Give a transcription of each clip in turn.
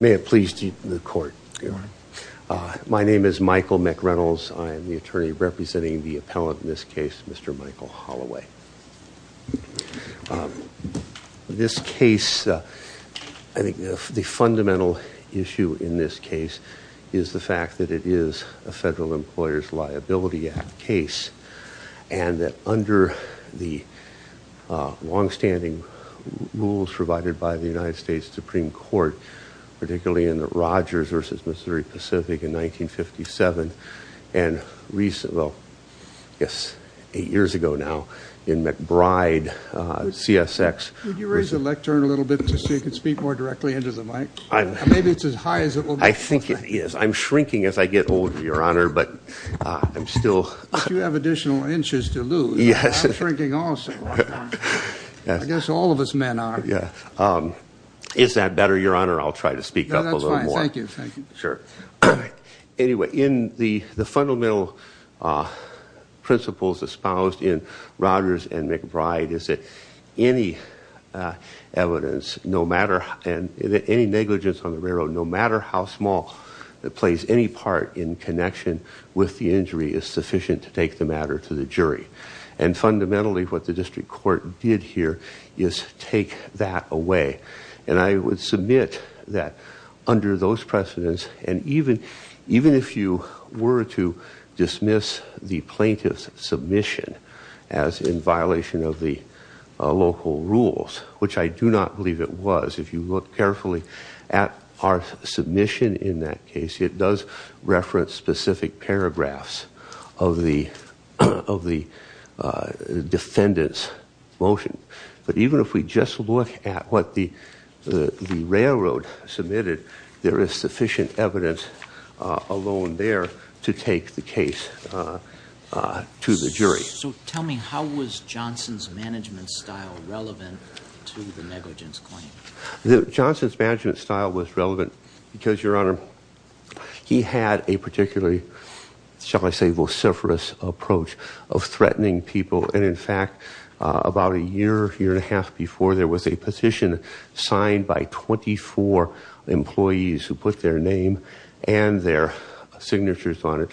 May it please the court. My name is Michael McReynolds. I am the attorney representing the appellant in this case, Mr. Michael Holloway. This case, I think the fundamental issue in this case is the fact that it is a Federal Employers Liability Act case, and that under the longstanding rules provided by the United States Supreme Court, particularly in the Rogers v. Missouri Pacific in 1957, and eight years ago now in McBride, CSX. Would you raise the lectern a little bit so you can speak more directly into the mic? Maybe it's as high as it will be. I think it is. I'm shrinking as I get older, Your Honor, but I'm still... But you have additional inches to lose. I'm shrinking also. I guess all of us men are. Is that better, Your Honor? I'll try to speak up a little more. No, that's fine. Thank you. Anyway, in the fundamental principles espoused in Rogers v. McBride is that any evidence, any negligence on the railroad, no matter how small, that plays any part in connection with the injury is sufficient to take the matter to the jury. And fundamentally, what the district court did here is take that away. And I would submit that under those precedents, and even if you were to dismiss the plaintiff's submission as in violation of the local rules, which I do not believe it was, if you look carefully at our submission in that case, it does reference specific paragraphs of the defendant's motion. But even if we just look at what the railroad submitted, there is sufficient evidence alone there to take the case to the jury. So tell me, how was Johnson's management style relevant to the negligence claim? Johnson's management style was relevant because, Your Honor, he had a particularly, shall I say, vociferous approach of threatening people. And in fact, about a year, year and a half before, there was a petition signed by 24 employees who put their name and their signatures on it,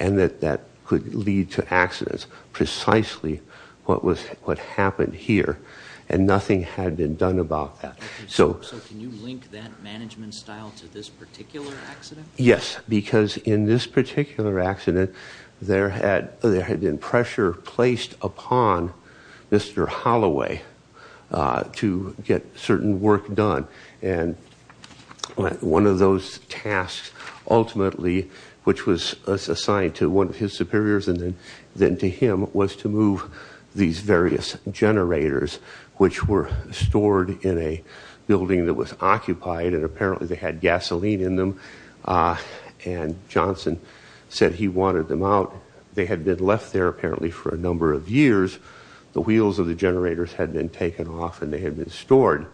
and that that could lead to accidents, precisely what happened here. And nothing had been done about that. So can you link that management style to this particular accident? Yes, because in this particular accident, there had been pressure placed upon Mr. Holloway to get certain work done. And one of those tasks, ultimately, which was assigned to one of his superiors and then to him, was to move these various generators, which were stored in a building that was occupied, and apparently they had gasoline in them, and Johnson said he wanted them out. They had been left there, apparently, for a number of years. The wheels of the generators had been taken off and they had been stored.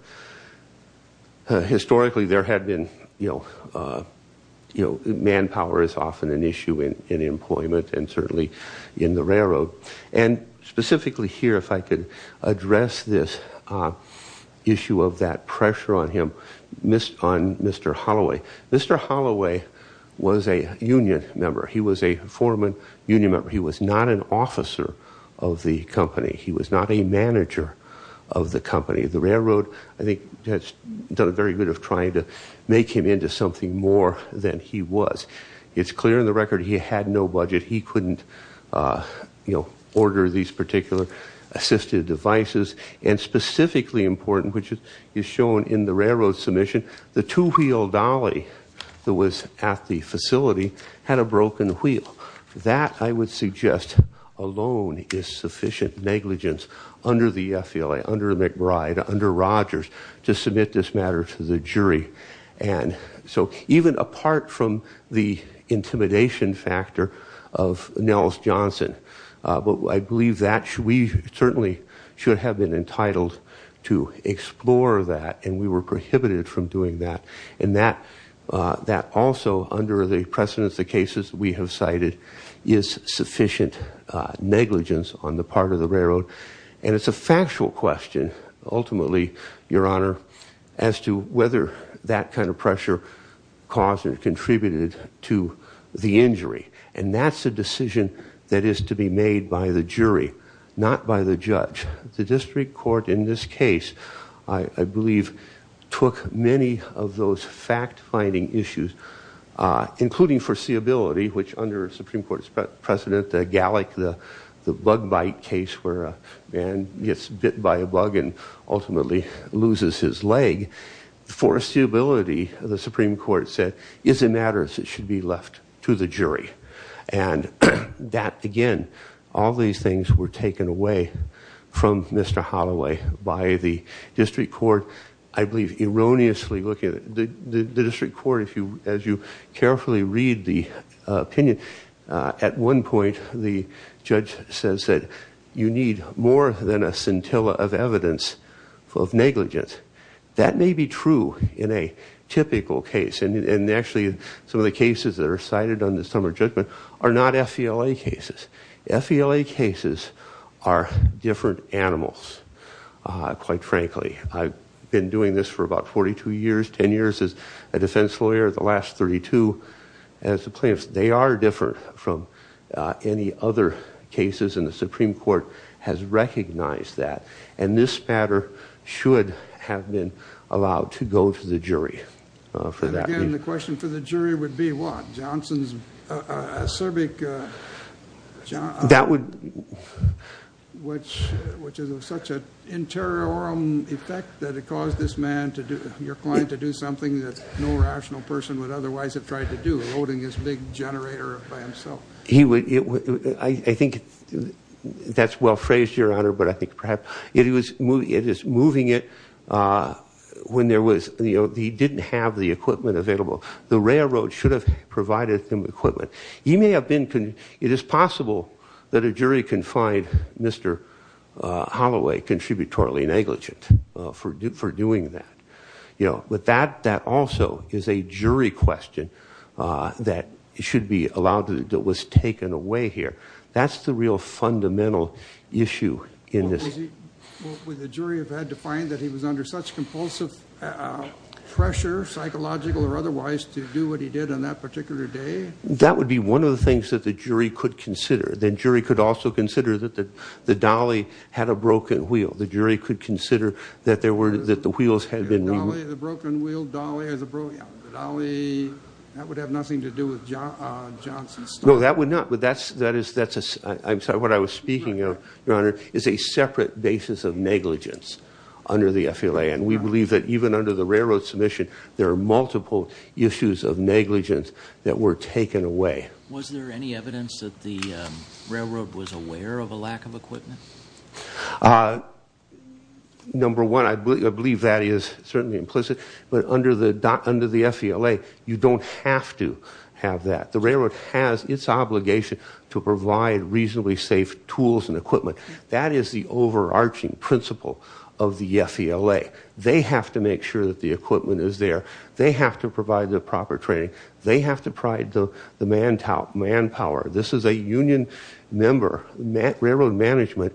Historically, there had been, you know, manpower is often an issue in employment and certainly in the railroad. And specifically here, if I could address this issue of that pressure on him, on Mr. Holloway. Mr. Holloway was a union member. He was a foreman union member. He was not an officer of the company. He was not a manager of the company. The railroad, I think, has done a very good of trying to make him into something more than he was. It's clear in the record he had no budget. He couldn't, you know, order these particular assistive devices. And specifically important, which is shown in the railroad submission, the two-wheel dolly that was at the facility had a broken wheel. That, I would suggest, alone is sufficient negligence under the FLA, under McBride, under Rogers, to submit this matter to the jury. And so even apart from the intimidation factor of Nels Johnson, I believe that we certainly should have been entitled to explore that, and we were prohibited from doing that. And that also, under the precedence of the cases we have cited, is sufficient negligence on the part of the railroad. And it's a factual question, ultimately, Your Honor, as to whether that kind of pressure caused or contributed to the injury. And that's a decision that is to be made by the jury, not by the judge. The district court in this case, I believe, took many of those fact-finding issues, including foreseeability, which under Supreme Court President Gallick, the bug bite case where a man gets bit by a bug and ultimately loses his leg. Foreseeability, the Supreme Court said, is a matter that should be left to the jury. And that, again, all these things were taken away from Mr. Holloway by the district court. I believe erroneously looking at it, the district court, as you carefully read the opinion, at one point the judge says that you need more than a scintilla of evidence of negligence. That may be true in a typical case. And actually, some of the cases that are cited on this summer judgment are not FELA cases. FELA cases are different animals, quite frankly. I've been doing this for about 42 years, 10 years as a defense lawyer, the last 32 as a plaintiff. They are different from any other cases, and the Supreme Court has recognized that. And this matter should have been allowed to go to the jury for that reason. And again, the question for the jury would be what? Johnson's acerbic, which is of such an interior effect that it caused this man, your client, to do something that no rational person would otherwise have tried to do, eroding his big generator by himself. I think that's well phrased, Your Honor, but I think perhaps it is moving it when he didn't have the equipment available. The railroad should have provided some equipment. It is possible that a jury can find Mr. Holloway contributorily negligent for doing that. But that also is a jury question that should be allowed, that was taken away here. That's the real fundamental issue in this. Would the jury have had to find that he was under such compulsive pressure, psychological or otherwise, to do what he did on that particular day? That would be one of the things that the jury could consider. The jury could also consider that the dolly had a broken wheel. The jury could consider that the wheels had been... The broken wheel, the dolly, that would have nothing to do with Johnson's story. No, that would not, but that's... I'm sorry, what I was speaking of, Your Honor, is a separate basis of negligence under the FLA. And we believe that even under the railroad submission, there are multiple issues of negligence that were taken away. Was there any evidence that the railroad was aware of a lack of equipment? Number one, I believe that is certainly implicit, but under the FLA, you don't have to have that. The railroad has its obligation to provide reasonably safe tools and equipment. That is the overarching principle of the FLA. They have to make sure that the equipment is there. They have to provide the proper training. They have to provide the manpower. This is a union member. Railroad management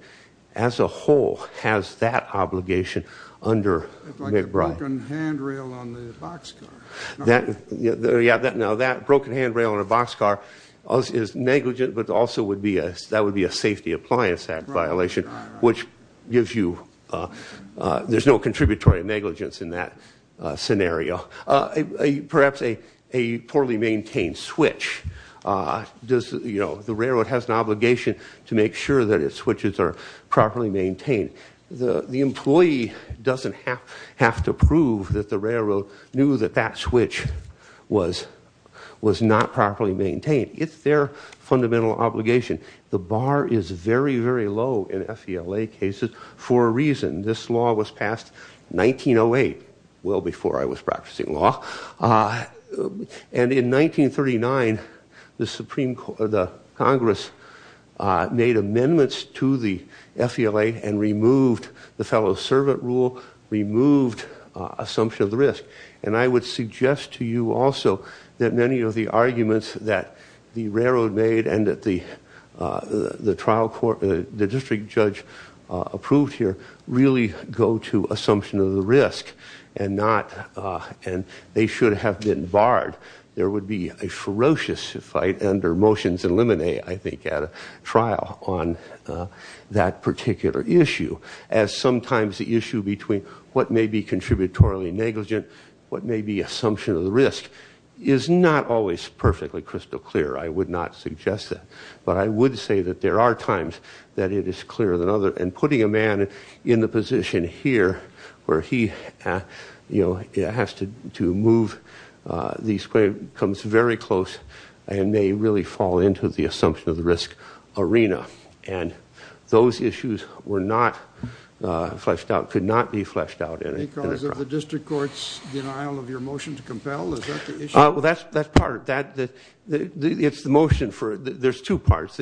as a whole has that obligation under McBride. Like a broken handrail on the boxcar. Yeah, now that broken handrail on a boxcar is negligent, but also that would be a Safety Appliance Act violation, which gives you... there's no contributory negligence in that scenario. Perhaps a poorly maintained switch. The railroad has an obligation to make sure that its switches are properly maintained. The employee doesn't have to prove that the railroad knew that that switch was not properly maintained. It's their fundamental obligation. The bar is very, very low in FLA cases for a reason. This law was passed 1908, well before I was practicing law. In 1939, the Congress made amendments to the FLA and removed the fellow-servant rule, removed assumption of the risk. I would suggest to you also that many of the arguments that the railroad made and that the district judge approved here really go to assumption of the risk and they should have been barred. There would be a ferocious fight under Motions and Lemonade, I think, at a trial on that particular issue, as sometimes the issue between what may be contributory negligent, what may be assumption of the risk, is not always perfectly crystal clear. I would not suggest that. But I would say that there are times that it is clearer than others. Putting a man in the position here where he has to move, comes very close and may really fall into the assumption of the risk arena. Those issues were not fleshed out, could not be fleshed out in a trial. Because of the district court's denial of your motion to compel? Well, that's part. It's the motion for it. There's two parts.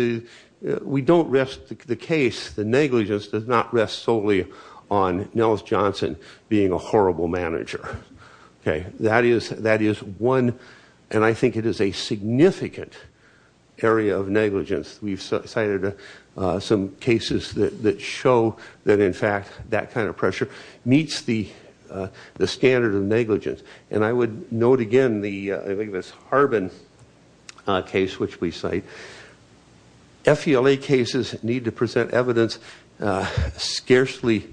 We don't rest the case, the negligence does not rest solely on Nellis Johnson being a horrible manager. That is one, and I think it is a significant area of negligence. We've cited some cases that show that, in fact, that kind of pressure meets the standard of negligence. And I would note again this Harbin case, which we cite. FELA cases need to present evidence scarcely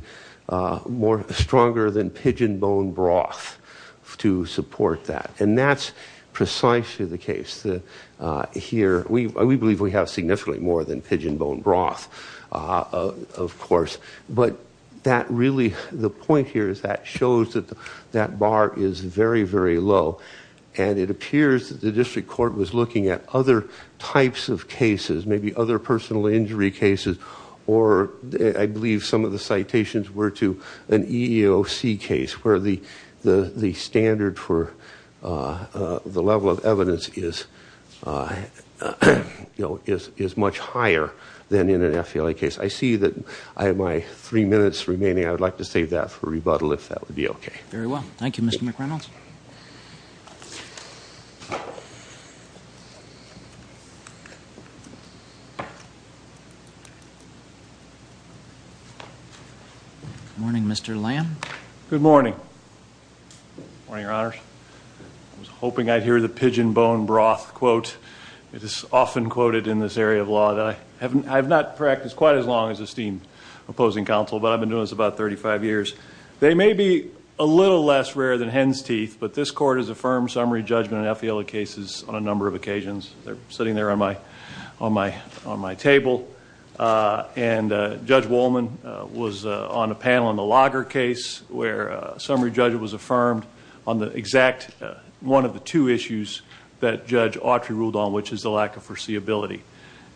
stronger than pigeon bone broth to support that. And that's precisely the case here. We believe we have significantly more than pigeon bone broth, of course. But that really, the point here is that shows that that bar is very, very low. And it appears that the district court was looking at other types of cases, maybe other personal injury cases, or I believe some of the citations were to an EEOC case, where the standard for the level of evidence is much higher than in an FELA case. I see that I have my three minutes remaining. I would like to save that for rebuttal, if that would be okay. Very well. Thank you, Mr. McReynolds. Good morning, Mr. Lamb. Good morning. Good morning, Your Honors. I was hoping I'd hear the pigeon bone broth quote. It is often quoted in this area of law that I have not practiced quite as long as esteemed opposing counsel, but I've been doing this about 35 years. They may be a little less rare than hen's teeth, but this Court has affirmed summary judgment in FELA cases on a number of occasions. They're sitting there on my table. And Judge Wolman was on a panel in the Lager case where a summary judge was affirmed on the exact, one of the two issues that Judge Autry ruled on, which is the lack of foreseeability.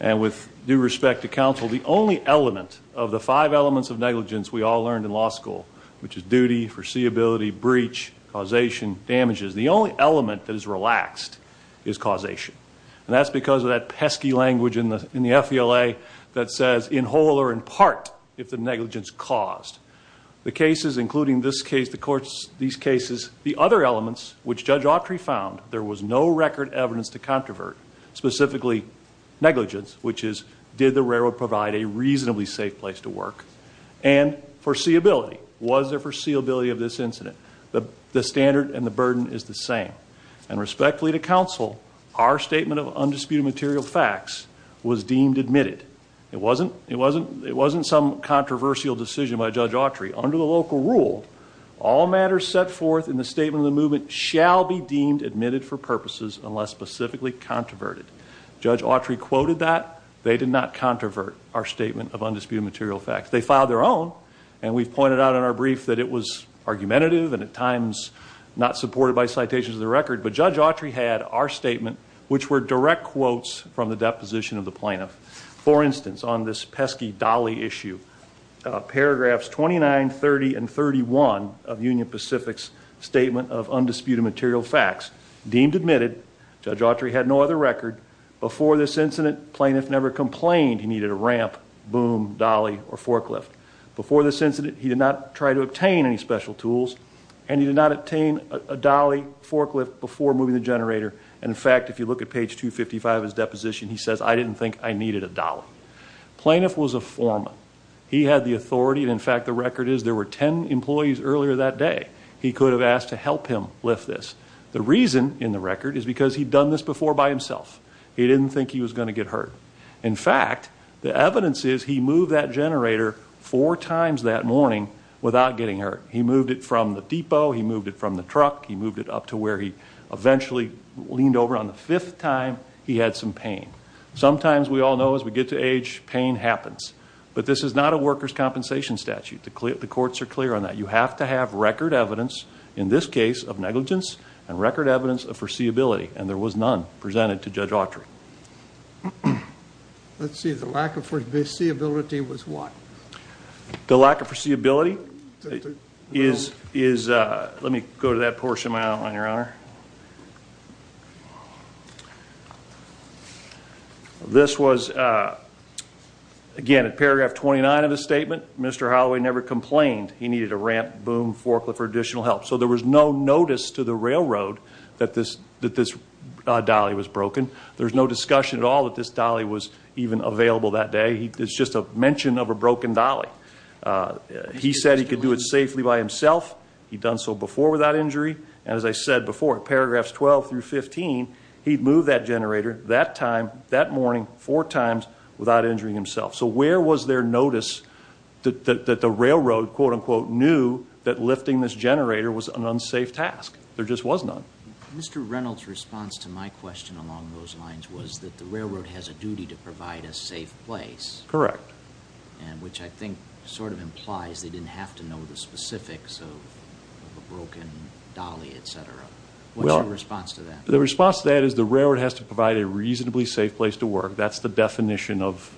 And with due respect to counsel, the only element of the five elements of negligence we all learned in law school, which is duty, foreseeability, breach, causation, damages, the only element that is relaxed is causation. And that's because of that pesky language in the FELA that says, in whole or in part, if the negligence caused. The cases, including this case, these cases, the other elements which Judge Autry found, there was no record evidence to controvert, specifically negligence, which is did the railroad provide a reasonably safe place to work, and foreseeability. Was there foreseeability of this incident? The standard and the burden is the same. And respectfully to counsel, our statement of undisputed material facts was deemed admitted. It wasn't some controversial decision by Judge Autry. Under the local rule, all matters set forth in the statement of the movement shall be deemed admitted for purposes unless specifically controverted. Judge Autry quoted that. They did not controvert our statement of undisputed material facts. They filed their own, and we've pointed out in our brief that it was argumentative and at times not supported by citations of the record. But Judge Autry had our statement, which were direct quotes from the deposition of the plaintiff. For instance, on this pesky dolly issue, paragraphs 29, 30, and 31 of Union Pacific's statement of undisputed material facts, deemed admitted. Judge Autry had no other record. Before this incident, plaintiff never complained he needed a ramp, boom, dolly, or forklift. Before this incident, he did not try to obtain any special tools, and he did not obtain a dolly forklift before moving the generator. And, in fact, if you look at page 255 of his deposition, he says, I didn't think I needed a dolly. Plaintiff was a foreman. He had the authority, and, in fact, the record is there were 10 employees earlier that day. He could have asked to help him lift this. The reason in the record is because he'd done this before by himself. He didn't think he was going to get hurt. In fact, the evidence is he moved that generator four times that morning without getting hurt. He moved it from the depot. He moved it from the truck. He moved it up to where he eventually leaned over. On the fifth time, he had some pain. Sometimes, we all know, as we get to age, pain happens. But this is not a workers' compensation statute. The courts are clear on that. You have to have record evidence, in this case, of negligence and record evidence of foreseeability, and there was none presented to Judge Autry. Let's see. The lack of foreseeability was what? The lack of foreseeability is, let me go to that portion of my outline, Your Honor. This was, again, at paragraph 29 of the statement, Mr. Holloway never complained he needed a ramp, boom, forklift for additional help. So there was no notice to the railroad that this dolly was broken. There's no discussion at all that this dolly was even available that day. It's just a mention of a broken dolly. He said he could do it safely by himself. He'd done so before without injury. And as I said before, at paragraphs 12 through 15, he'd moved that generator that time, that morning, four times, without injuring himself. So where was there notice that the railroad, quote-unquote, knew that lifting this generator was an unsafe task? There just was none. Mr. Reynolds' response to my question along those lines was that the railroad has a duty to provide a safe place. Correct. Which I think sort of implies they didn't have to know the specifics of a broken dolly, etc. What's your response to that? The response to that is the railroad has to provide a reasonably safe place to work. That's the definition of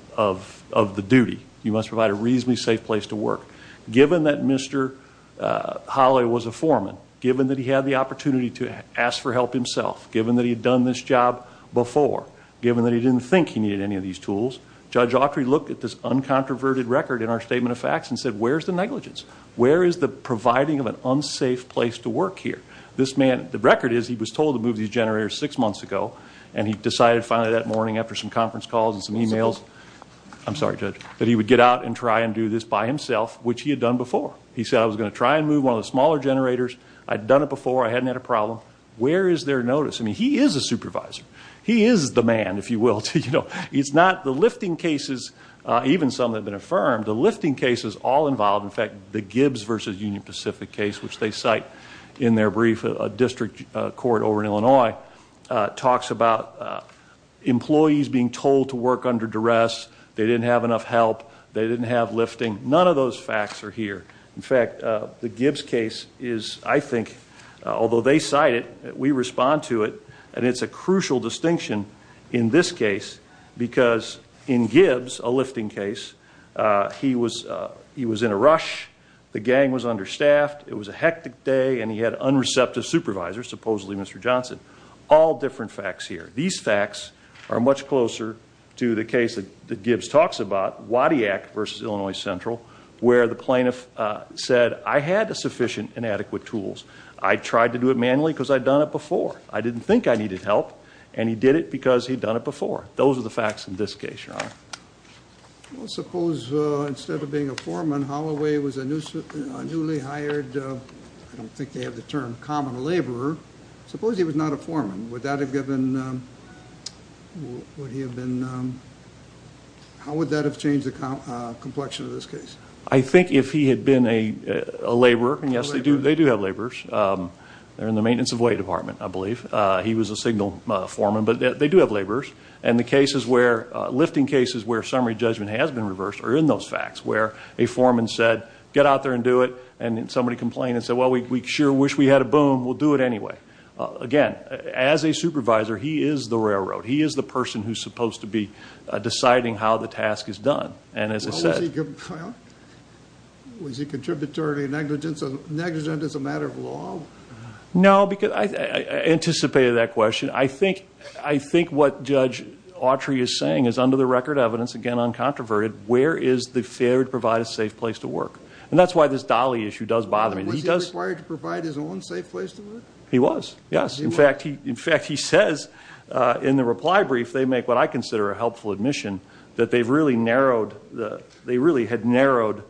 the duty. You must provide a reasonably safe place to work. Given that Mr. Holloway was a foreman, given that he had the opportunity to ask for help himself, given that he had done this job before, given that he didn't think he needed any of these tools, Judge Autry looked at this uncontroverted record in our Statement of Facts and said, where's the negligence? Where is the providing of an unsafe place to work here? The record is he was told to move these generators six months ago, and he decided finally that morning after some conference calls and some e-mails, I'm sorry, Judge, that he would get out and try and do this by himself, which he had done before. He said, I was going to try and move one of the smaller generators. I'd done it before. I hadn't had a problem. Where is their notice? I mean, he is a supervisor. He is the man, if you will. It's not the lifting cases, even some that have been affirmed, the lifting cases all involved. In fact, the Gibbs v. Union Pacific case, which they cite in their brief, a district court over in Illinois, talks about employees being told to work under duress. They didn't have enough help. They didn't have lifting. None of those facts are here. In fact, the Gibbs case is, I think, although they cite it, we respond to it, and it's a crucial distinction in this case because in Gibbs, a lifting case, he was in a rush. The gang was understaffed. It was a hectic day, and he had unreceptive supervisors, supposedly Mr. Johnson. All different facts here. These facts are much closer to the case that Gibbs talks about, Wadiak v. Illinois Central, where the plaintiff said, I had sufficient and adequate tools. I tried to do it manually because I'd done it before. I didn't think I needed help, and he did it because he'd done it before. Those are the facts in this case, Your Honor. Well, suppose instead of being a foreman, Holloway was a newly hired, I don't think they have the term, common laborer. Suppose he was not a foreman. Would that have given, would he have been, how would that have changed the complexion of this case? I think if he had been a laborer, and, yes, they do have laborers. They're in the maintenance of weight department, I believe. He was a signal foreman, but they do have laborers. And the cases where, lifting cases where summary judgment has been reversed are in those facts, where a foreman said, get out there and do it, and somebody complained and said, well, we sure wish we had a boom. We'll do it anyway. Again, as a supervisor, he is the railroad. He is the person who's supposed to be deciding how the task is done. And as I said. Well, was he contributarily negligent as a matter of law? No, because I anticipated that question. I think what Judge Autry is saying is under the record evidence, again, uncontroverted, where is the failure to provide a safe place to work? And that's why this Dolly issue does bother me. Was he required to provide his own safe place to work? He was, yes. In fact, he says in the reply brief, they make what I consider a helpful admission, that they really had narrowed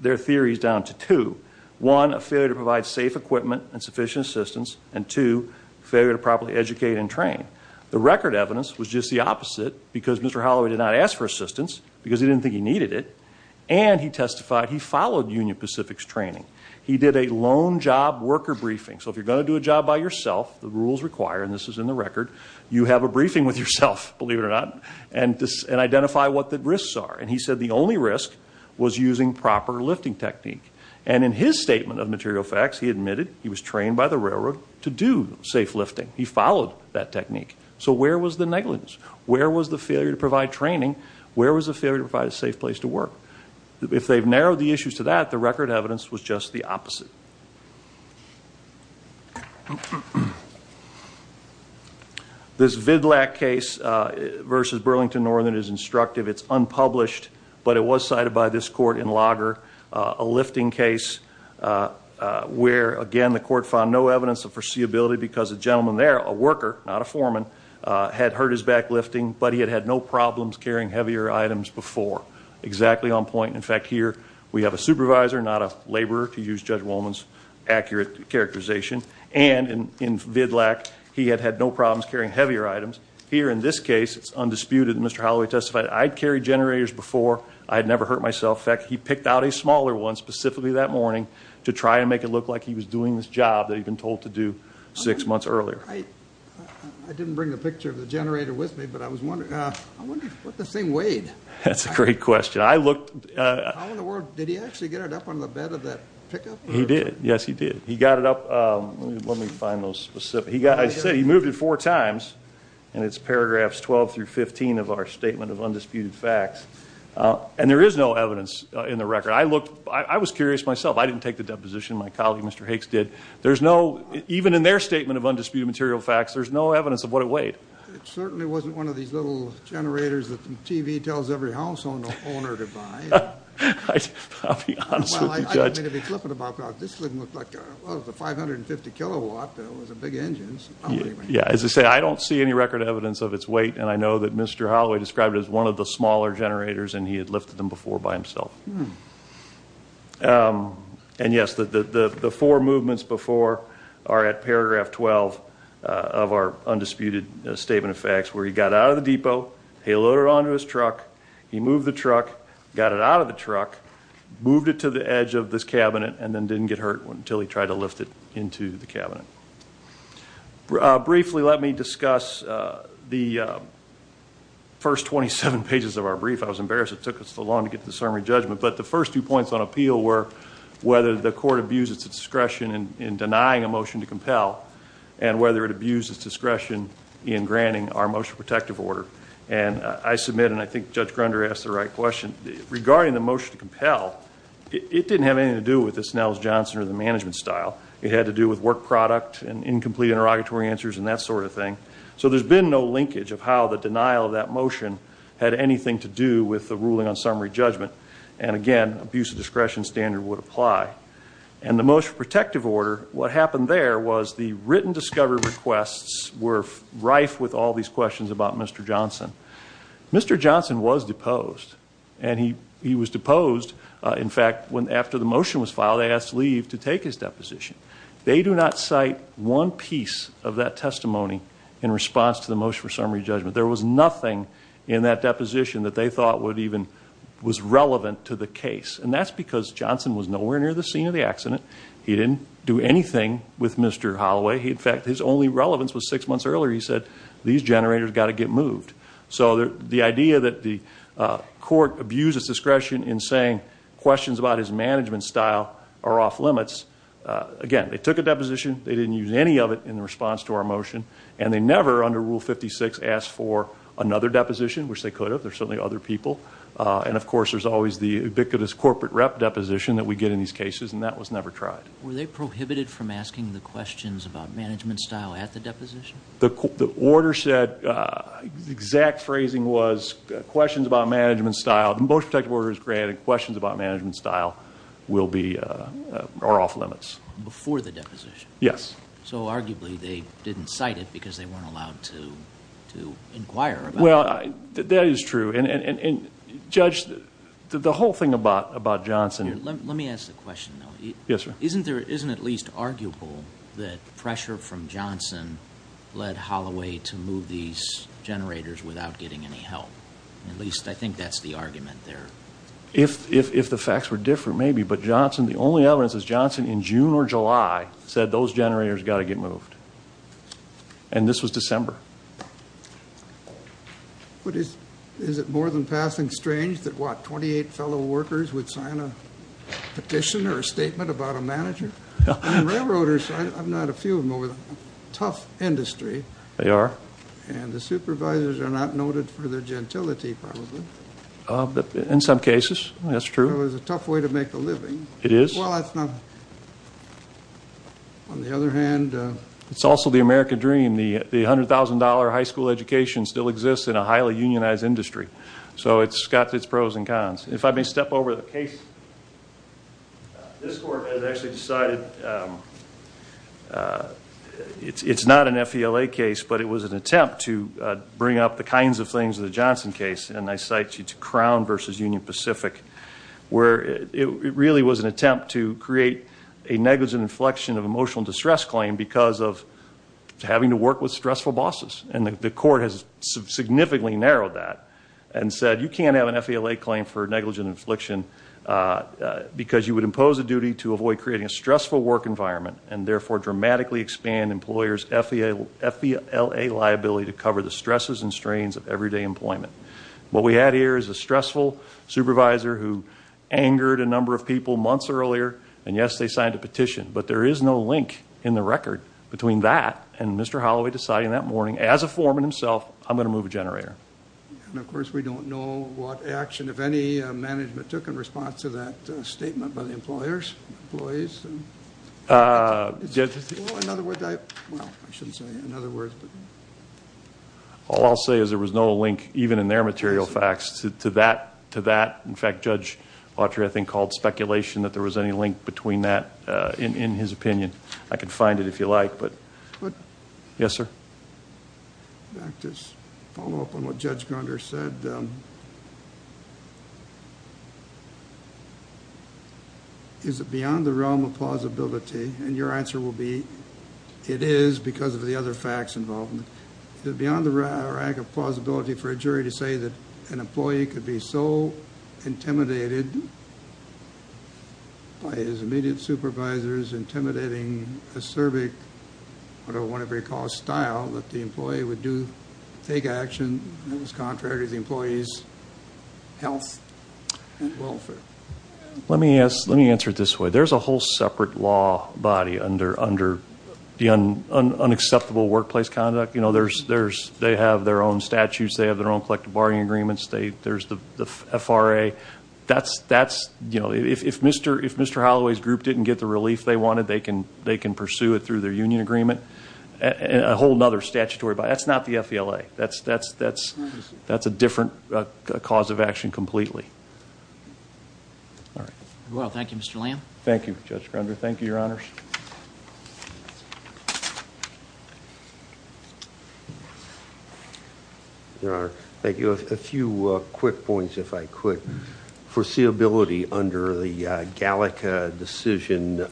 their theories down to two. One, a failure to provide safe equipment and sufficient assistance, and two, failure to properly educate and train. The record evidence was just the opposite because Mr. Holloway did not ask for assistance because he didn't think he needed it, and he testified he followed Union Pacific's training. He did a lone job worker briefing. So if you're going to do a job by yourself, the rules require, and this is in the record, you have a briefing with yourself, believe it or not, and identify what the risks are. And he said the only risk was using proper lifting technique. And in his statement of material facts, he admitted he was trained by the railroad to do safe lifting. He followed that technique. So where was the negligence? Where was the failure to provide training? Where was the failure to provide a safe place to work? If they've narrowed the issues to that, the record evidence was just the opposite. This Vidlack case versus Burlington Northern is instructive. It's unpublished, but it was cited by this court in Lager, a lifting case, where, again, the court found no evidence of foreseeability because the gentleman there, a worker, not a foreman, had hurt his back lifting, but he had had no problems carrying heavier items before. Exactly on point. In fact, here we have a supervisor, not a laborer, to use Judge Wolman's accurate characterization. And in Vidlack, he had had no problems carrying heavier items. Here in this case, it's undisputed that Mr. Holloway testified, I'd carried generators before. I had never hurt myself. In fact, he picked out a smaller one specifically that morning to try and make it look like he was doing this job that he'd been told to do six months earlier. I didn't bring the picture of the generator with me, but I was wondering, what the same weight? That's a great question. I looked. How in the world did he actually get it up on the bed of that pickup? He did. Yes, he did. He got it up. Let me find those specific. He moved it four times, and it's paragraphs 12 through 15 of our statement of undisputed facts. And there is no evidence in the record. I was curious myself. I didn't take the deposition. My colleague, Mr. Hicks, did. Even in their statement of undisputed material facts, there's no evidence of what it weighed. It certainly wasn't one of these little generators that the TV tells every household owner to buy. I'll be honest with you, Judge. Well, I don't mean to be flippant about that. This didn't look like a 550-kilowatt. It was a big engine. Yeah, as I say, I don't see any record evidence of its weight, and I know that Mr. Holloway described it as one of the smaller generators, and he had lifted them before by himself. And, yes, the four movements before are at paragraph 12 of our undisputed statement of facts, where he got it out of the depot, he loaded it onto his truck, he moved the truck, got it out of the truck, moved it to the edge of this cabinet, and then didn't get hurt until he tried to lift it into the cabinet. Briefly, let me discuss the first 27 pages of our brief. I was embarrassed it took us so long to get to the summary judgment. But the first two points on appeal were whether the court abused its discretion in denying a motion to compel and whether it abused its discretion in granting our motion protective order. And I submit, and I think Judge Grunder asked the right question, regarding the motion to compel, it didn't have anything to do with the Snells-Johnson or the management style. It had to do with work product and incomplete interrogatory answers and that sort of thing. So there's been no linkage of how the denial of that motion had anything to do with the ruling on summary judgment. And, again, abuse of discretion standard would apply. And the motion protective order, what happened there was the written discovery requests were rife with all these questions about Mr. Johnson. Mr. Johnson was deposed. And he was deposed, in fact, after the motion was filed, they asked Lee to take his deposition. They do not cite one piece of that testimony in response to the motion for summary judgment. There was nothing in that deposition that they thought would even, was relevant to the case. And that's because Johnson was nowhere near the scene of the accident. He didn't do anything with Mr. Holloway. In fact, his only relevance was six months earlier he said, these generators got to get moved. So the idea that the court abused its discretion in saying questions about his management style are off limits Again, they took a deposition. They didn't use any of it in response to our motion. And they never, under Rule 56, asked for another deposition, which they could have. There are certainly other people. And, of course, there's always the ubiquitous corporate rep deposition that we get in these cases. And that was never tried. Were they prohibited from asking the questions about management style at the deposition? The order said, the exact phrasing was questions about management style. The motion protective order is granted. Questions about management style will be, are off limits. Before the deposition? Yes. So, arguably, they didn't cite it because they weren't allowed to inquire about it. Well, that is true. And, Judge, the whole thing about Johnson Let me ask the question, though. Yes, sir. Isn't there, isn't it at least arguable that pressure from Johnson led Holloway to move these generators without getting any help? At least I think that's the argument there. If the facts were different, maybe. But Johnson, the only evidence is Johnson, in June or July, said those generators got to get moved. And this was December. But is it more than passing strange that, what, 28 fellow workers would sign a petition or a statement about a manager? I mean, railroaders, I've known a few of them over the tough industry. They are. And the supervisors are not noted for their gentility, probably. In some cases, that's true. It was a tough way to make a living. It is. Well, that's not, on the other hand. It's also the American dream. The $100,000 high school education still exists in a highly unionized industry. So it's got its pros and cons. If I may step over the case. This court has actually decided it's not an FELA case, but it was an attempt to bring up the kinds of things in the Johnson case, and I cite Crown versus Union Pacific, where it really was an attempt to create a negligent inflection of emotional distress claim because of having to work with stressful bosses. And the court has significantly narrowed that and said you can't have an FELA claim for negligent inflection because you would impose a duty to avoid creating a stressful work environment and therefore dramatically expand employers' FELA liability to cover the stresses and strains of everyday employment. What we had here is a stressful supervisor who angered a number of people months earlier, and, yes, they signed a petition. But there is no link in the record between that and Mr. Holloway deciding that morning, as a foreman himself, I'm going to move a generator. And, of course, we don't know what action, if any, management took in response to that statement by the employers, employees. In other words, I shouldn't say in other words. All I'll say is there was no link, even in their material facts, to that. In fact, Judge Autry, I think, called speculation that there was any link between that, in his opinion. I can find it if you like. Yes, sir. I'd like to follow up on what Judge Grunder said. Is it beyond the realm of plausibility? And your answer will be it is because of the other facts involved. Is it beyond the realm of plausibility for a jury to say that an employee could be so intimidated by his immediate supervisors, intimidating, acerbic, whatever you call style, that the employee would take action that was contrary to the employee's health and welfare? Let me answer it this way. There's a whole separate law body under the unacceptable workplace conduct. You know, they have their own statutes. They have their own collective bargaining agreements. There's the FRA. That's, you know, if Mr. Holloway's group didn't get the relief they wanted, they can pursue it through their union agreement. A whole other statutory body. That's not the FELA. That's a different cause of action completely. All right. Well, thank you, Mr. Lamb. Thank you, Judge Grunder. Thank you, Your Honors. Your Honor, thank you. A few quick points, if I could. Foreseeability under the Gallica decision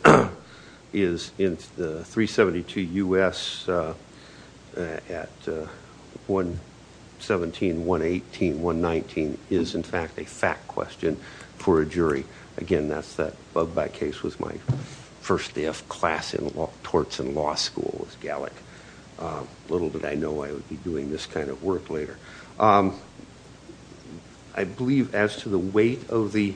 is in the 372 U.S. at 117, 118, 119, is, in fact, a fact question for a jury. Again, that case was my first day of class in law, torts in law school was Gallic. Little did I know I would be doing this kind of work later. I believe as to the weight of the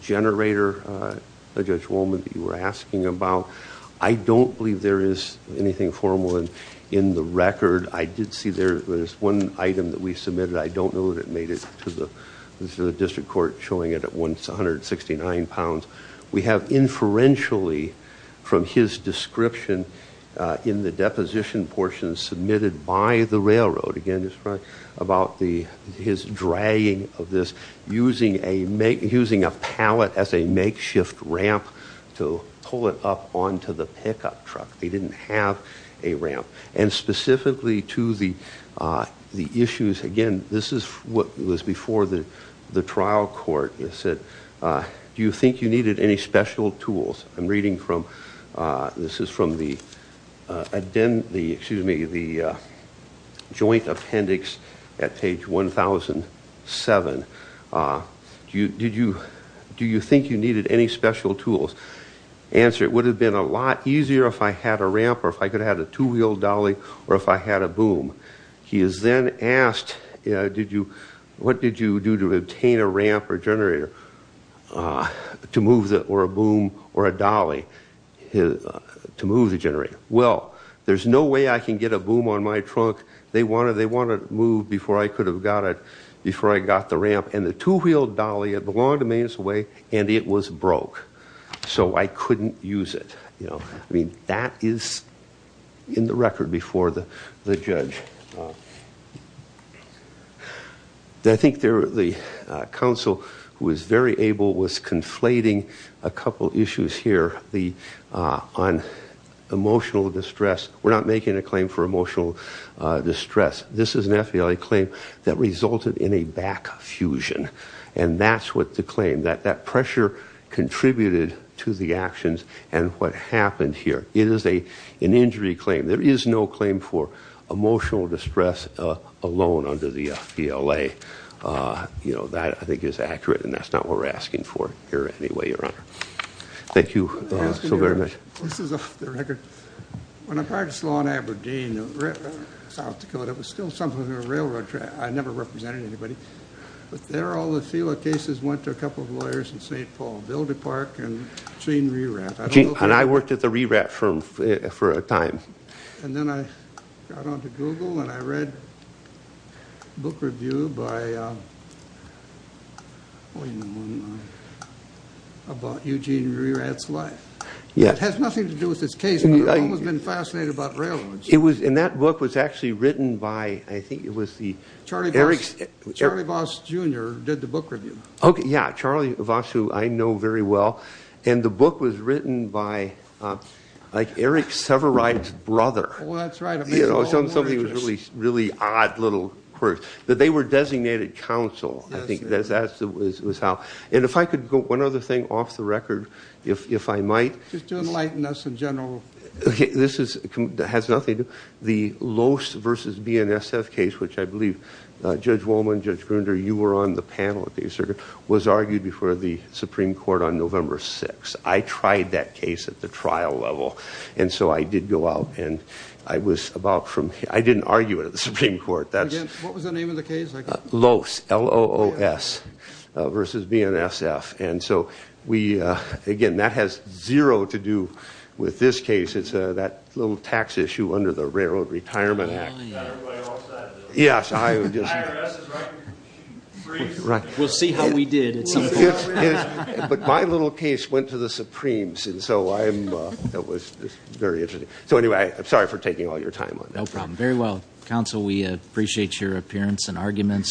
generator, Judge Wohlman, that you were asking about, I don't believe there is anything formal in the record. I did see there was one item that we submitted. I don't know that it made it to the district court showing it at 169 pounds. We have inferentially from his description in the deposition portion submitted by the railroad, again, about his dragging of this, using a pallet as a makeshift ramp to pull it up onto the pickup truck. They didn't have a ramp. Specifically to the issues, again, this is what was before the trial court. It said, do you think you needed any special tools? I'm reading from the Joint Appendix at page 1007. Do you think you needed any special tools? Answer, it would have been a lot easier if I had a ramp or if I could have had a two-wheeled dolly or if I had a boom. He is then asked, what did you do to obtain a ramp or generator to move or a boom or a dolly to move the generator? Well, there's no way I can get a boom on my truck. They want it moved before I could have got it, before I got the ramp. And the two-wheeled dolly, it belonged to me anyway, and it was broke. So I couldn't use it. I mean, that is in the record before the judge. I think the counsel was very able, was conflating a couple issues here on emotional distress. We're not making a claim for emotional distress. This is an FBLA claim that resulted in a back fusion. And that's what the claim, that that pressure contributed to the actions and what happened here. It is an injury claim. There is no claim for emotional distress alone under the FBLA. You know, that I think is accurate, and that's not what we're asking for here anyway, Your Honor. Thank you so very much. This is off the record. When I practiced law in Aberdeen, South Dakota, it was still something of a railroad track. I never represented anybody. But there, all the FBLA cases went to a couple of lawyers in St. Paul, Bill DePark and Gene Rerat. And I worked at the Rerat firm for a time. And then I got onto Google, and I read a book review by, oh, you know, about Eugene Rerat's life. It has nothing to do with this case, but I've always been fascinated about railroads. And that book was actually written by, I think it was the – Charlie Voss, Jr. did the book review. Yeah, Charlie Voss, who I know very well. And the book was written by, like, Eric Severide's brother. Oh, that's right. It was on somebody who was a really odd little person. But they were designated counsel, I think. And if I could go one other thing off the record, if I might. Just to enlighten us in general. This has nothing to do – the Loos versus BNSF case, which I believe Judge Wolman, Judge Grunder, you were on the panel at the circuit, was argued before the Supreme Court on November 6th. I tried that case at the trial level, and so I did go out, and I was about from – I didn't argue it at the Supreme Court. What was the name of the case? Loos, L-O-O-S, versus BNSF. And so we – again, that has zero to do with this case. It's that little tax issue under the Railroad Retirement Act. Not everybody wants that. Yes, I would just – IRS is right. We'll see how we did at some point. But my little case went to the Supremes, and so I'm – that was very interesting. So anyway, I'm sorry for taking all your time on that. No problem. Very well. Counsel, we appreciate your appearance and arguments.